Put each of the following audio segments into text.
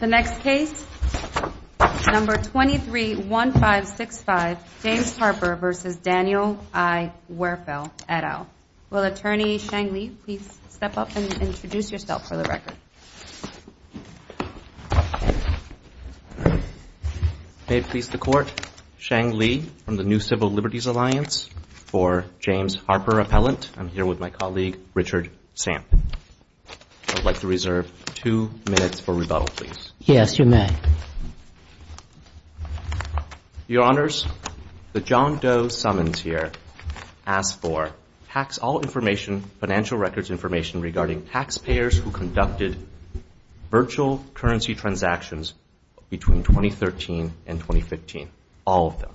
231565 James Harper v. Daniel I. Werfel, et al. Will Attorney Sheng Li please step up and introduce yourself for the record? May it please the Court, Sheng Li from the New Civil Liberties Alliance. For James Harper Appellant, I'm here with my colleague Richard Samp. I'd like to reserve two minutes for rebuttal, please. Yes, you may. Your Honors, the John Doe summons here asks for tax all information, financial records information, regarding taxpayers who conducted virtual currency transactions between 2013 and 2015, all of them.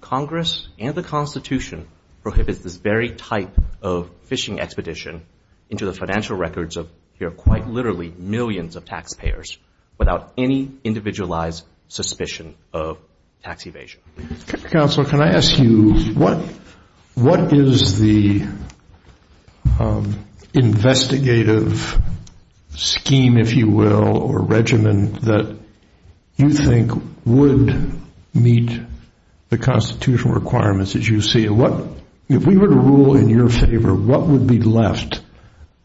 Congress and the Constitution prohibits this very type of phishing expedition into the financial records of, here quite literally, millions of taxpayers without any individualized suspicion of tax evasion. Counsel, can I ask you, what is the investigative scheme, if you will, or regimen that you think would meet the Constitutional requirements that you see? If we were to rule in your favor, what would be left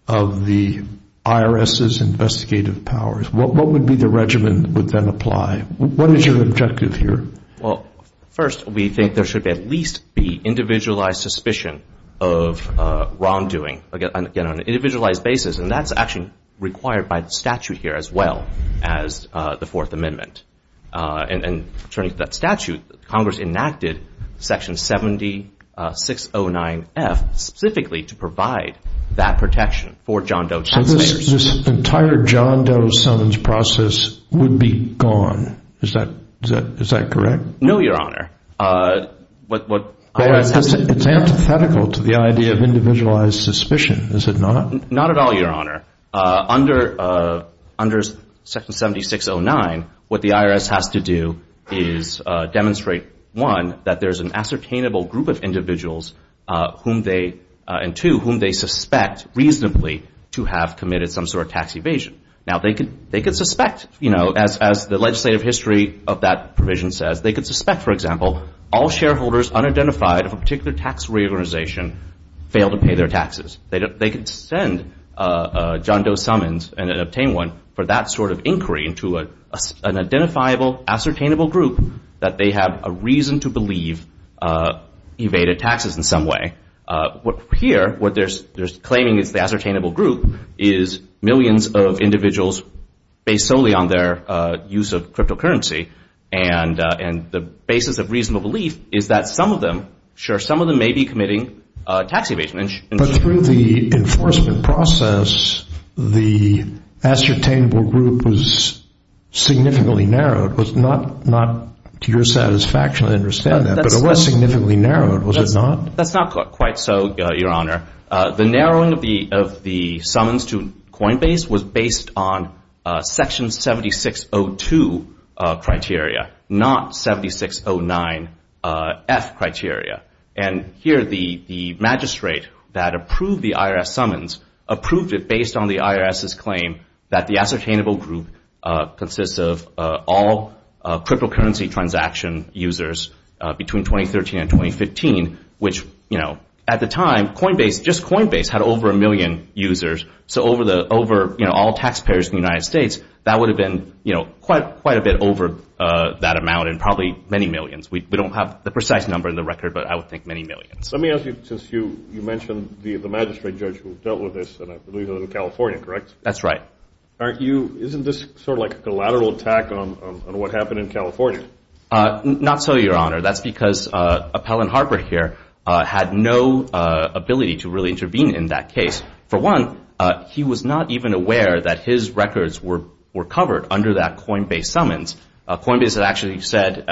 of the IRS's investigative powers? What would be the regimen that would then apply? What is your objective here? Well, first, we think there should at least be individualized suspicion of wrongdoing, again, on an individualized basis. And that's actually required by the statute here as well as the Fourth Amendment. And turning to that statute, Congress enacted Section 7609F specifically to provide that protection for John Doe taxpayers. So this entire John Doe summons process would be gone. Is that correct? No, Your Honor. It's antithetical to the idea of individualized suspicion, is it not? Not at all, Your Honor. Under Section 7609, what the IRS has to do is demonstrate, one, that there's an ascertainable group of individuals and, two, whom they suspect reasonably to have committed some sort of tax evasion. Now, they could suspect, you know, as the legislative history of that provision says, they could suspect, for example, all shareholders unidentified of a particular tax reorganization fail to pay their taxes. They could send John Doe summons and obtain one for that sort of inquiry into an identifiable, ascertainable group that they have a reason to believe evaded taxes in some way. Here, what they're claiming is the ascertainable group is millions of individuals based solely on their use of cryptocurrency. And the basis of reasonable belief is that some of them, sure, some of them may be committing tax evasion. But through the enforcement process, the ascertainable group was significantly narrowed. It was not, to your satisfaction, I understand that, but it was significantly narrowed, was it not? That's not quite so, Your Honor. The narrowing of the summons to Coinbase was based on Section 7602 criteria, not 7609F criteria. And here, the magistrate that approved the IRS summons approved it based on the IRS's claim that the ascertainable group consists of all cryptocurrency transaction users between 2013 and 2015, which, you know, at the time, Coinbase, just Coinbase, had over a million users. So over all taxpayers in the United States, that would have been, you know, quite a bit over that amount and probably many millions. We don't have the precise number in the record, but I would think many millions. Let me ask you, since you mentioned the magistrate judge who dealt with this, and I believe it was in California, correct? That's right. Aren't you, isn't this sort of like a collateral attack on what happened in California? Not so, Your Honor. That's because Appellant Harper here had no ability to really intervene in that case. For one, he was not even aware that his records were covered under that Coinbase summons. Coinbase had actually said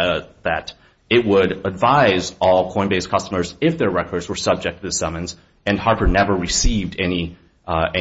that it would advise all Coinbase customers if their records were subject to the summons, and Harper never received any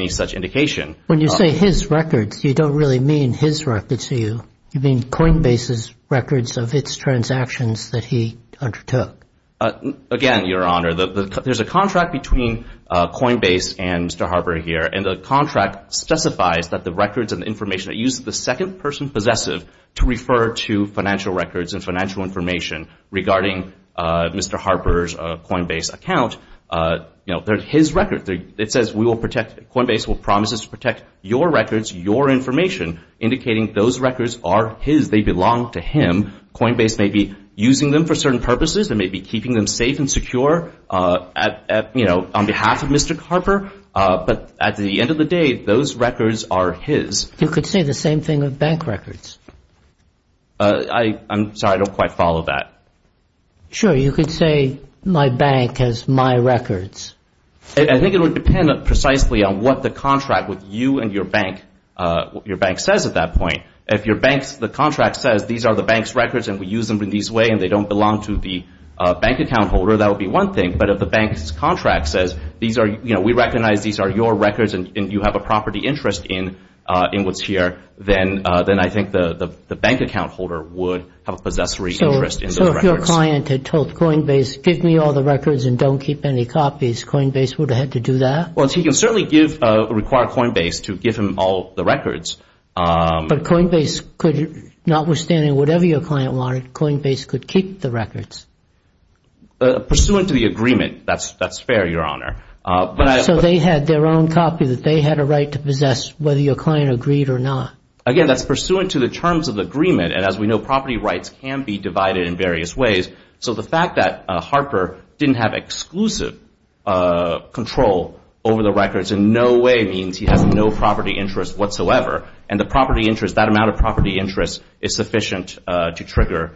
such indication. When you say his records, you don't really mean his records to you. You mean Coinbase's records of its transactions that he undertook. Again, Your Honor, there's a contract between Coinbase and Mr. Harper here, and the contract specifies that the records and information that uses the second person possessive to refer to financial records and financial information regarding Mr. Harper's Coinbase account, they're his records. It says Coinbase will promise us to protect your records, your information, indicating those records are his. They belong to him. Coinbase may be using them for certain purposes. It may be keeping them safe and secure on behalf of Mr. Harper, but at the end of the day, those records are his. You could say the same thing with bank records. I'm sorry. I don't quite follow that. Sure. You could say my bank has my records. I think it would depend precisely on what the contract with you and your bank says at that point. If the contract says these are the bank's records and we use them in this way and they don't belong to the bank account holder, that would be one thing. But if the bank's contract says we recognize these are your records and you have a property interest in what's here, then I think the bank account holder would have a possessory interest in those records. So if your client had told Coinbase give me all the records and don't keep any copies, Coinbase would have had to do that? Well, he can certainly require Coinbase to give him all the records. But Coinbase could, notwithstanding whatever your client wanted, Coinbase could keep the records? Pursuant to the agreement, that's fair, Your Honor. So they had their own copy that they had a right to possess whether your client agreed or not? Again, that's pursuant to the terms of the agreement. And as we know, property rights can be divided in various ways. So the fact that Harper didn't have exclusive control over the records in no way means he has no property interest whatsoever. And the property interest, that amount of property interest, is sufficient to trigger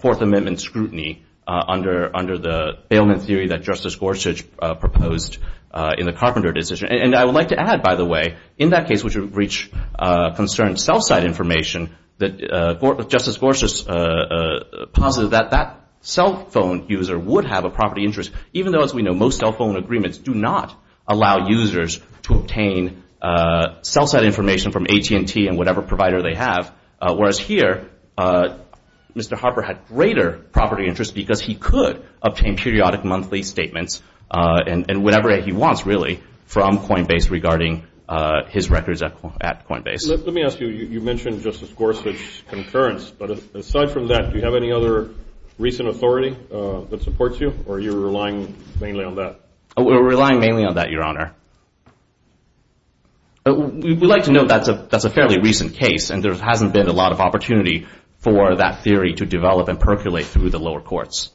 Fourth Amendment scrutiny under the bailment theory that Justice Gorsuch proposed in the Carpenter decision. And I would like to add, by the way, in that case which would reach concerned cell site information, Justice Gorsuch posited that that cell phone user would have a property interest, even though, as we know, most cell phone agreements do not allow users to obtain cell site information from AT&T and whatever provider they have, whereas here, Mr. Harper had greater property interest because he could obtain periodic monthly statements and whatever he wants, really, from Coinbase regarding his records at Coinbase. Let me ask you, you mentioned Justice Gorsuch's concurrence, but aside from that, do you have any other recent authority that supports you, or are you relying mainly on that? We're relying mainly on that, Your Honor. We'd like to note that's a fairly recent case, and there hasn't been a lot of opportunity for that theory to develop and percolate through the lower courts.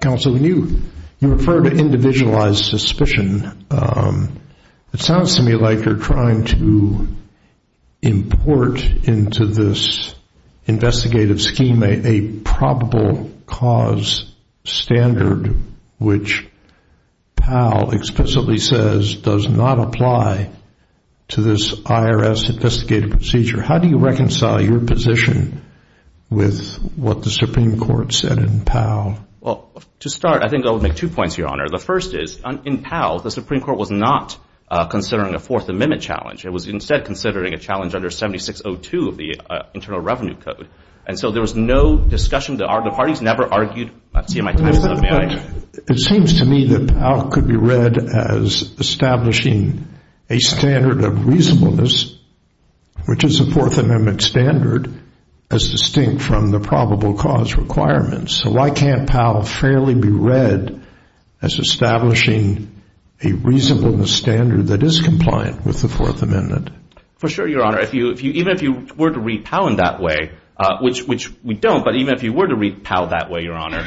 Counsel, when you refer to individualized suspicion, it sounds to me like you're trying to import into this investigative scheme a probable cause standard which PAL explicitly says does not apply to this IRS investigative procedure. How do you reconcile your position with what the Supreme Court said in PAL? Well, to start, I think I would make two points, Your Honor. The first is, in PAL, the Supreme Court was not considering a Fourth Amendment challenge. It was instead considering a challenge under 7602 of the Internal Revenue Code, and so there was no discussion. The parties never argued. It seems to me that PAL could be read as establishing a standard of reasonableness, which is a Fourth Amendment standard, as distinct from the probable cause requirements. So why can't PAL fairly be read as establishing a reasonableness standard that is compliant with the Fourth Amendment? For sure, Your Honor. Even if you were to read PAL in that way, which we don't, but even if you were to read PAL that way, Your Honor,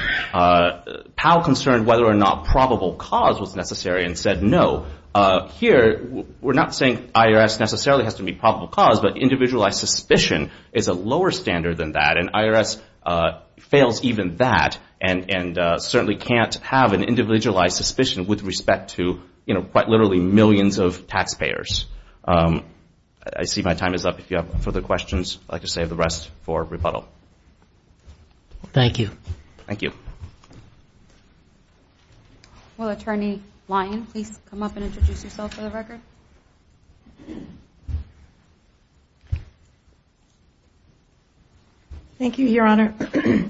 PAL concerned whether or not probable cause was necessary and said no. Here, we're not saying IRS necessarily has to meet probable cause, but individualized suspicion is a lower standard than that, and IRS fails even that and certainly can't have an individualized suspicion with respect to, you know, quite literally millions of taxpayers. I see my time is up. If you have further questions, I'd like to save the rest for rebuttal. Thank you. Thank you. Will Attorney Lyon please come up and introduce yourself for the record? Thank you, Your Honor,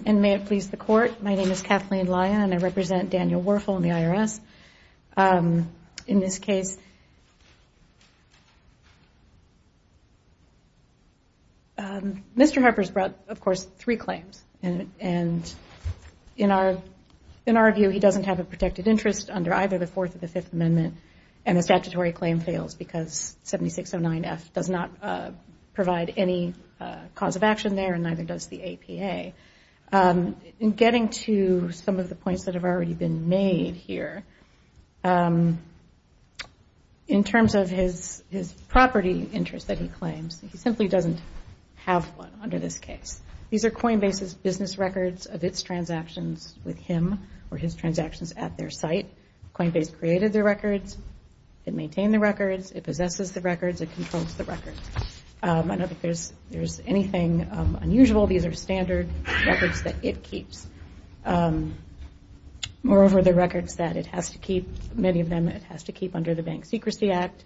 and may it please the Court. My name is Kathleen Lyon, and I represent Daniel Werfel in the IRS. In this case, Mr. Harper's brought, of course, three claims, and in our view, he doesn't have a protected interest under either the Fourth or the Fifth Amendment, and the statutory claim fails because 7609F does not provide any cause of action there and neither does the APA. In getting to some of the points that have already been made here, in terms of his property interest that he claims, he simply doesn't have one under this case. These are Coinbase's business records of its transactions with him or his transactions at their site. Coinbase created the records. It maintained the records. It possesses the records. It controls the records. I don't think there's anything unusual. These are standard records that it keeps. Moreover, the records that it has to keep, many of them it has to keep under the Bank Secrecy Act,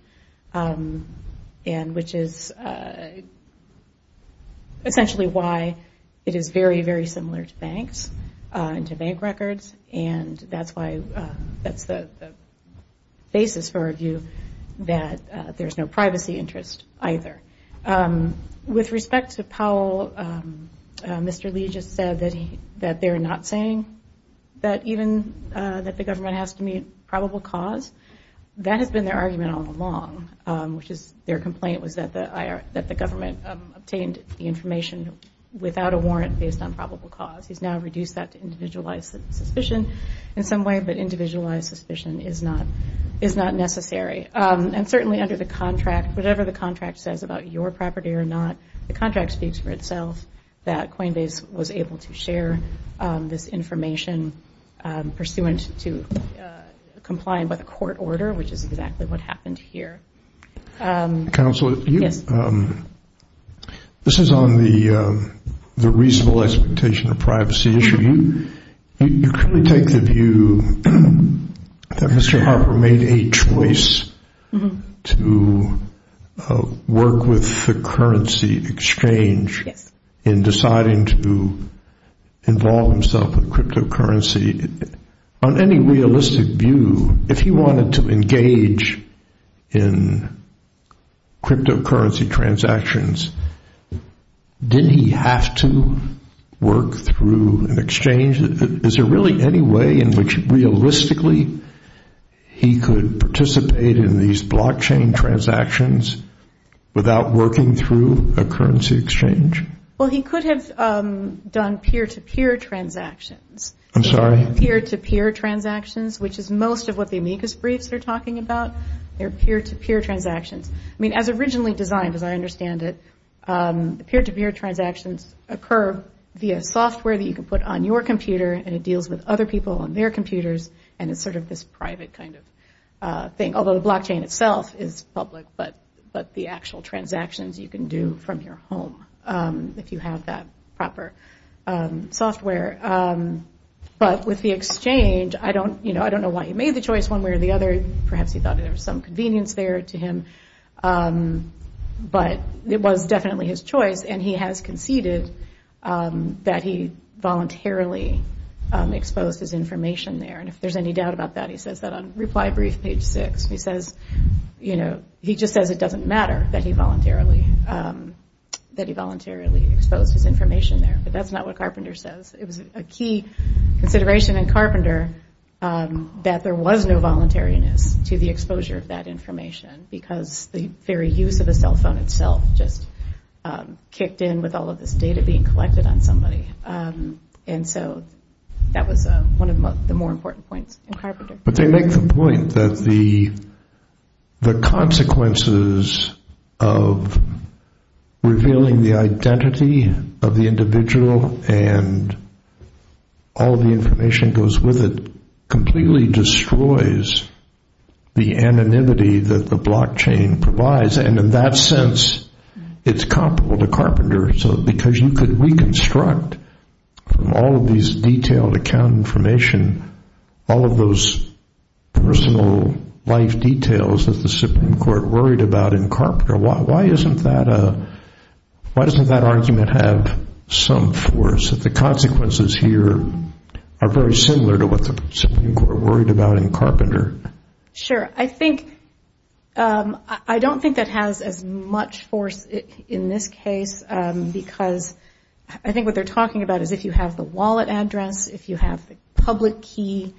which is essentially why it is very, very similar to banks and to bank records, and that's the basis for our view that there's no privacy interest either. With respect to Powell, Mr. Lee just said that they're not saying that the government has to meet probable cause. That has been their argument all along, which is their complaint was that the government obtained the information without a warrant based on probable cause. He's now reduced that to individualized suspicion in some way, but individualized suspicion is not necessary. Certainly under the contract, whatever the contract says about your property or not, the contract speaks for itself that Coinbase was able to share this information pursuant to complying with a court order, which is exactly what happened here. Counsel, this is on the reasonable expectation of privacy issue. You clearly take the view that Mr. Harper made a choice to work with the currency exchange in deciding to involve himself in cryptocurrency. On any realistic view, if he wanted to engage in cryptocurrency transactions, didn't he have to work through an exchange? Is there really any way in which realistically he could participate in these blockchain transactions without working through a currency exchange? Well, he could have done peer-to-peer transactions. I'm sorry? Peer-to-peer transactions, which is most of what the amicus briefs are talking about. They're peer-to-peer transactions. I mean, as originally designed, as I understand it, the peer-to-peer transactions occur via software that you can put on your computer and it deals with other people on their computers, and it's sort of this private kind of thing. Although the blockchain itself is public, but the actual transactions you can do from your home if you have that proper software. But with the exchange, I don't know why he made the choice one way or the other. Perhaps he thought there was some convenience there to him. But it was definitely his choice, and he has conceded that he voluntarily exposed his information there. And if there's any doubt about that, he says that on reply brief page six. He says, you know, he just says it doesn't matter that he voluntarily exposed his information there. But that's not what Carpenter says. It was a key consideration in Carpenter that there was no voluntariness to the exposure of that information because the very use of a cell phone itself just kicked in with all of this data being collected on somebody. And so that was one of the more important points in Carpenter. But they make the point that the consequences of revealing the identity of the individual and all the information that goes with it completely destroys the anonymity that the blockchain provides. And in that sense, it's comparable to Carpenter because you could reconstruct from all of these detailed account information all of those personal life details that the Supreme Court worried about in Carpenter. Why isn't that a – why doesn't that argument have some force, that the consequences here are very similar to what the Supreme Court worried about in Carpenter? Sure. I think – I don't think that has as much force in this case because I think what they're talking about is if you have the wallet address, if you have the public key,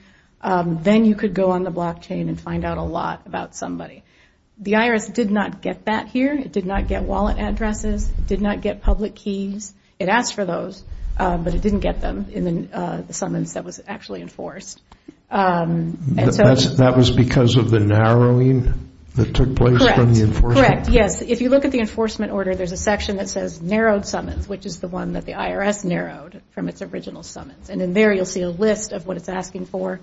then you could go on the blockchain and find out a lot about somebody. The IRS did not get that here. It did not get wallet addresses. It did not get public keys. It asked for those, but it didn't get them in the summons that was actually enforced. That was because of the narrowing that took place from the enforcement? Correct. Yes. If you look at the enforcement order, there's a section that says narrowed summons, which is the one that the IRS narrowed from its original summons. And in there you'll see a list of what it's asking for,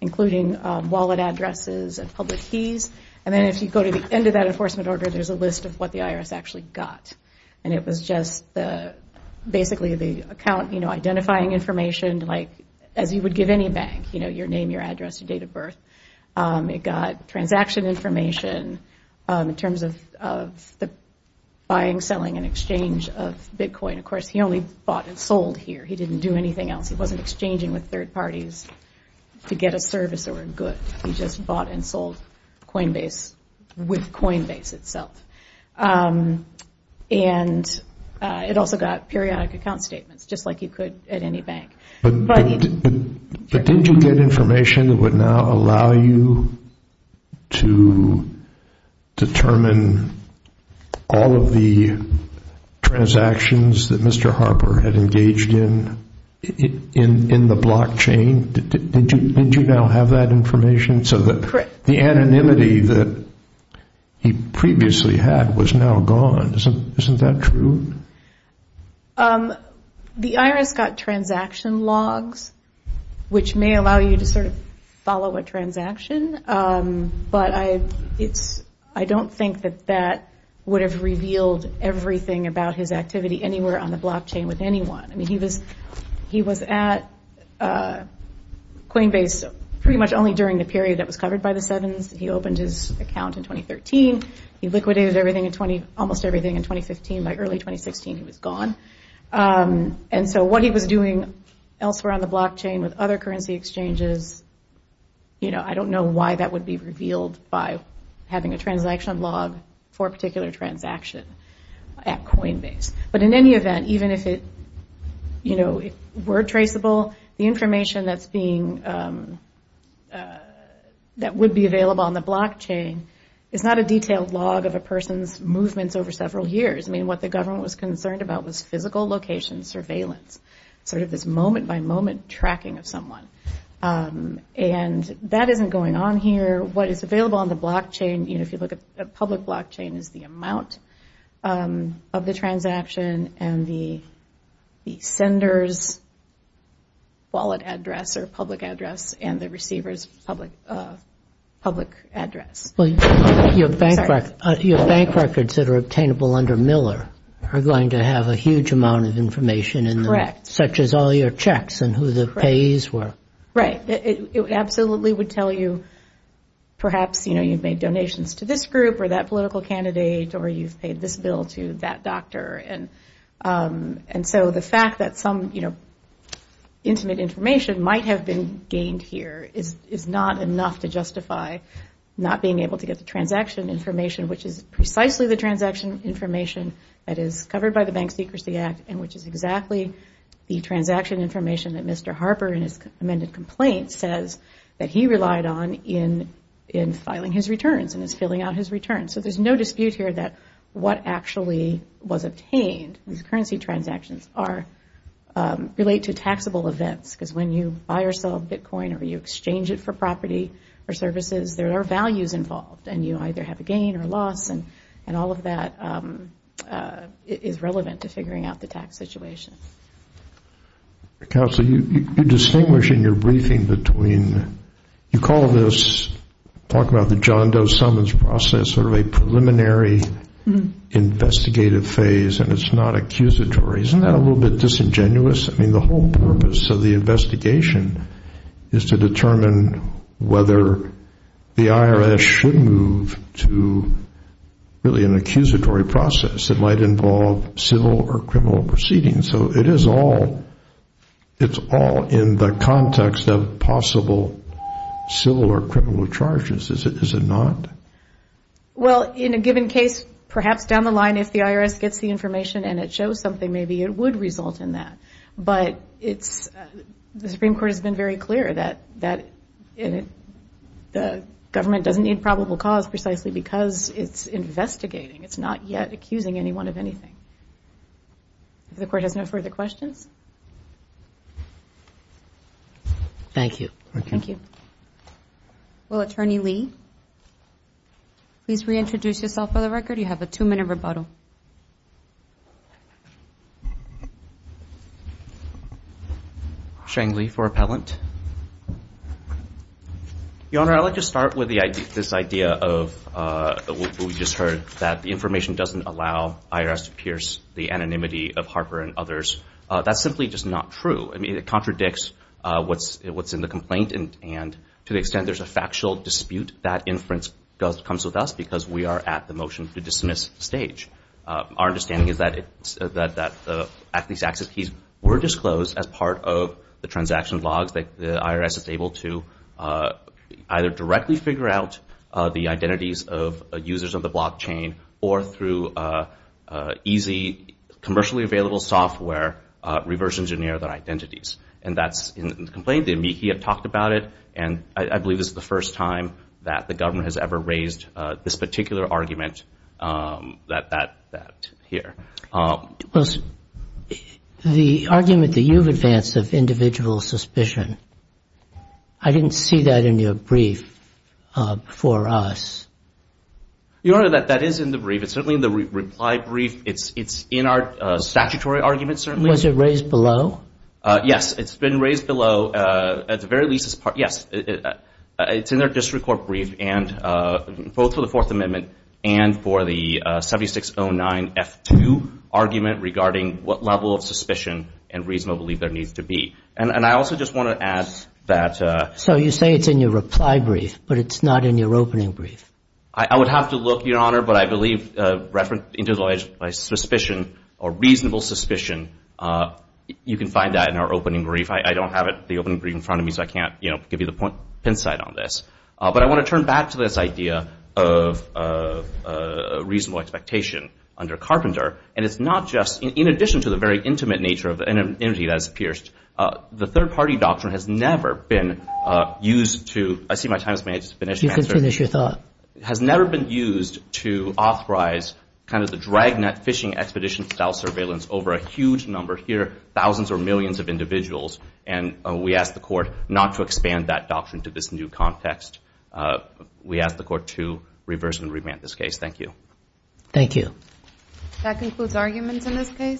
including wallet addresses and public keys. And then if you go to the end of that enforcement order, there's a list of what the IRS actually got. And it was just basically the account, you know, identifying information, like as you would give any bank, you know, your name, your address, your date of birth. It got transaction information in terms of the buying, selling, and exchange of Bitcoin. Of course, he only bought and sold here. He didn't do anything else. He wasn't exchanging with third parties to get a service or a good. He just bought and sold Coinbase with Coinbase itself. And it also got periodic account statements, just like you could at any bank. But didn't you get information that would now allow you to determine all of the transactions that Mr. Harper had engaged in in the blockchain? Didn't you now have that information so that the anonymity that he previously had was now gone? Isn't that true? The IRS got transaction logs, which may allow you to sort of follow a transaction. But I don't think that that would have revealed everything about his activity anywhere on the blockchain with anyone. I mean, he was at Coinbase pretty much only during the period that was covered by the Sevens. He opened his account in 2013. He liquidated almost everything in 2015. By early 2016, he was gone. And so what he was doing elsewhere on the blockchain with other currency exchanges, I don't know why that would be revealed by having a transaction log for a particular transaction at Coinbase. But in any event, even if it were traceable, the information that would be available on the blockchain is not a detailed log of a person's movements over several years. I mean, what the government was concerned about was physical location surveillance, sort of this moment-by-moment tracking of someone. And that isn't going on here. What is available on the blockchain, if you look at public blockchain, is the amount of the transaction and the sender's wallet address or public address and the receiver's public address. Well, your bank records that are obtainable under Miller are going to have a huge amount of information in them, such as all your checks and who the payees were. Right. It absolutely would tell you perhaps, you know, you've made donations to this group or that political candidate or you've paid this bill to that doctor. And so the fact that some, you know, intimate information might have been gained here is not enough to justify not being able to get the transaction information, which is precisely the transaction information that is covered by the Bank Secrecy Act and which is exactly the transaction information that Mr. Harper, in his amended complaint, says that he relied on in filing his returns and is filling out his returns. So there's no dispute here that what actually was obtained, these currency transactions, relate to taxable events. Because when you buy or sell Bitcoin or you exchange it for property or services, there are values involved and you either have a gain or a loss and all of that is relevant to figuring out the tax situation. Counsel, you distinguish in your briefing between you call this, talk about the John Doe summons process, sort of a preliminary investigative phase and it's not accusatory. Isn't that a little bit disingenuous? I mean, the whole purpose of the investigation is to determine whether the IRS should move to really an accusatory process that might involve civil or criminal proceedings. So it's all in the context of possible civil or criminal charges. Is it not? Well, in a given case, perhaps down the line, if the IRS gets the information and it shows something, maybe it would result in that. But the Supreme Court has been very clear that the government doesn't need probable cause precisely because it's investigating. It's not yet accusing anyone of anything. If the Court has no further questions. Thank you. Well, Attorney Lee, please reintroduce yourself for the record. You have a two-minute rebuttal. Sheng Li for appellant. Your Honor, I'd like to start with this idea of what we just heard, that the information doesn't allow IRS to pierce the anonymity of Harper and others. That's simply just not true. I mean, it contradicts what's in the complaint. And to the extent there's a factual dispute, that inference comes with us because we are at the motion-to-dismiss stage. Our understanding is that these access keys were disclosed as part of the transaction logs that the IRS is able to either directly figure out the identities of users of the blockchain or through easy, commercially-available software, reverse-engineer their identities. And that's in the complaint. And I believe this is the first time that the government has ever raised this particular argument here. The argument that you've advanced of individual suspicion, I didn't see that in your brief for us. Your Honor, that is in the brief. It's certainly in the reply brief. It's in our statutory argument, certainly. Was it raised below? Yes. It's been raised below. At the very least, yes. It's in our district court brief, both for the Fourth Amendment and for the 7609F2 argument regarding what level of suspicion and reasonable belief there needs to be. And I also just want to add that – So you say it's in your reply brief, but it's not in your opening brief. I would have to look, Your Honor, but I believe, referring to my suspicion or reasonable suspicion, you can find that in our opening brief. I don't have the opening brief in front of me, so I can't give you the pin-side on this. But I want to turn back to this idea of reasonable expectation under Carpenter. And it's not just – in addition to the very intimate nature of an entity that is pierced, the third-party doctrine has never been used to – I see my time has finished. You can finish your thought. It has never been used to authorize kind of the drag-net fishing expedition-style surveillance over a huge number here, thousands or millions of individuals. And we ask the court not to expand that doctrine to this new context. We ask the court to reverse and remand this case. Thank you. Thank you. That concludes arguments in this case.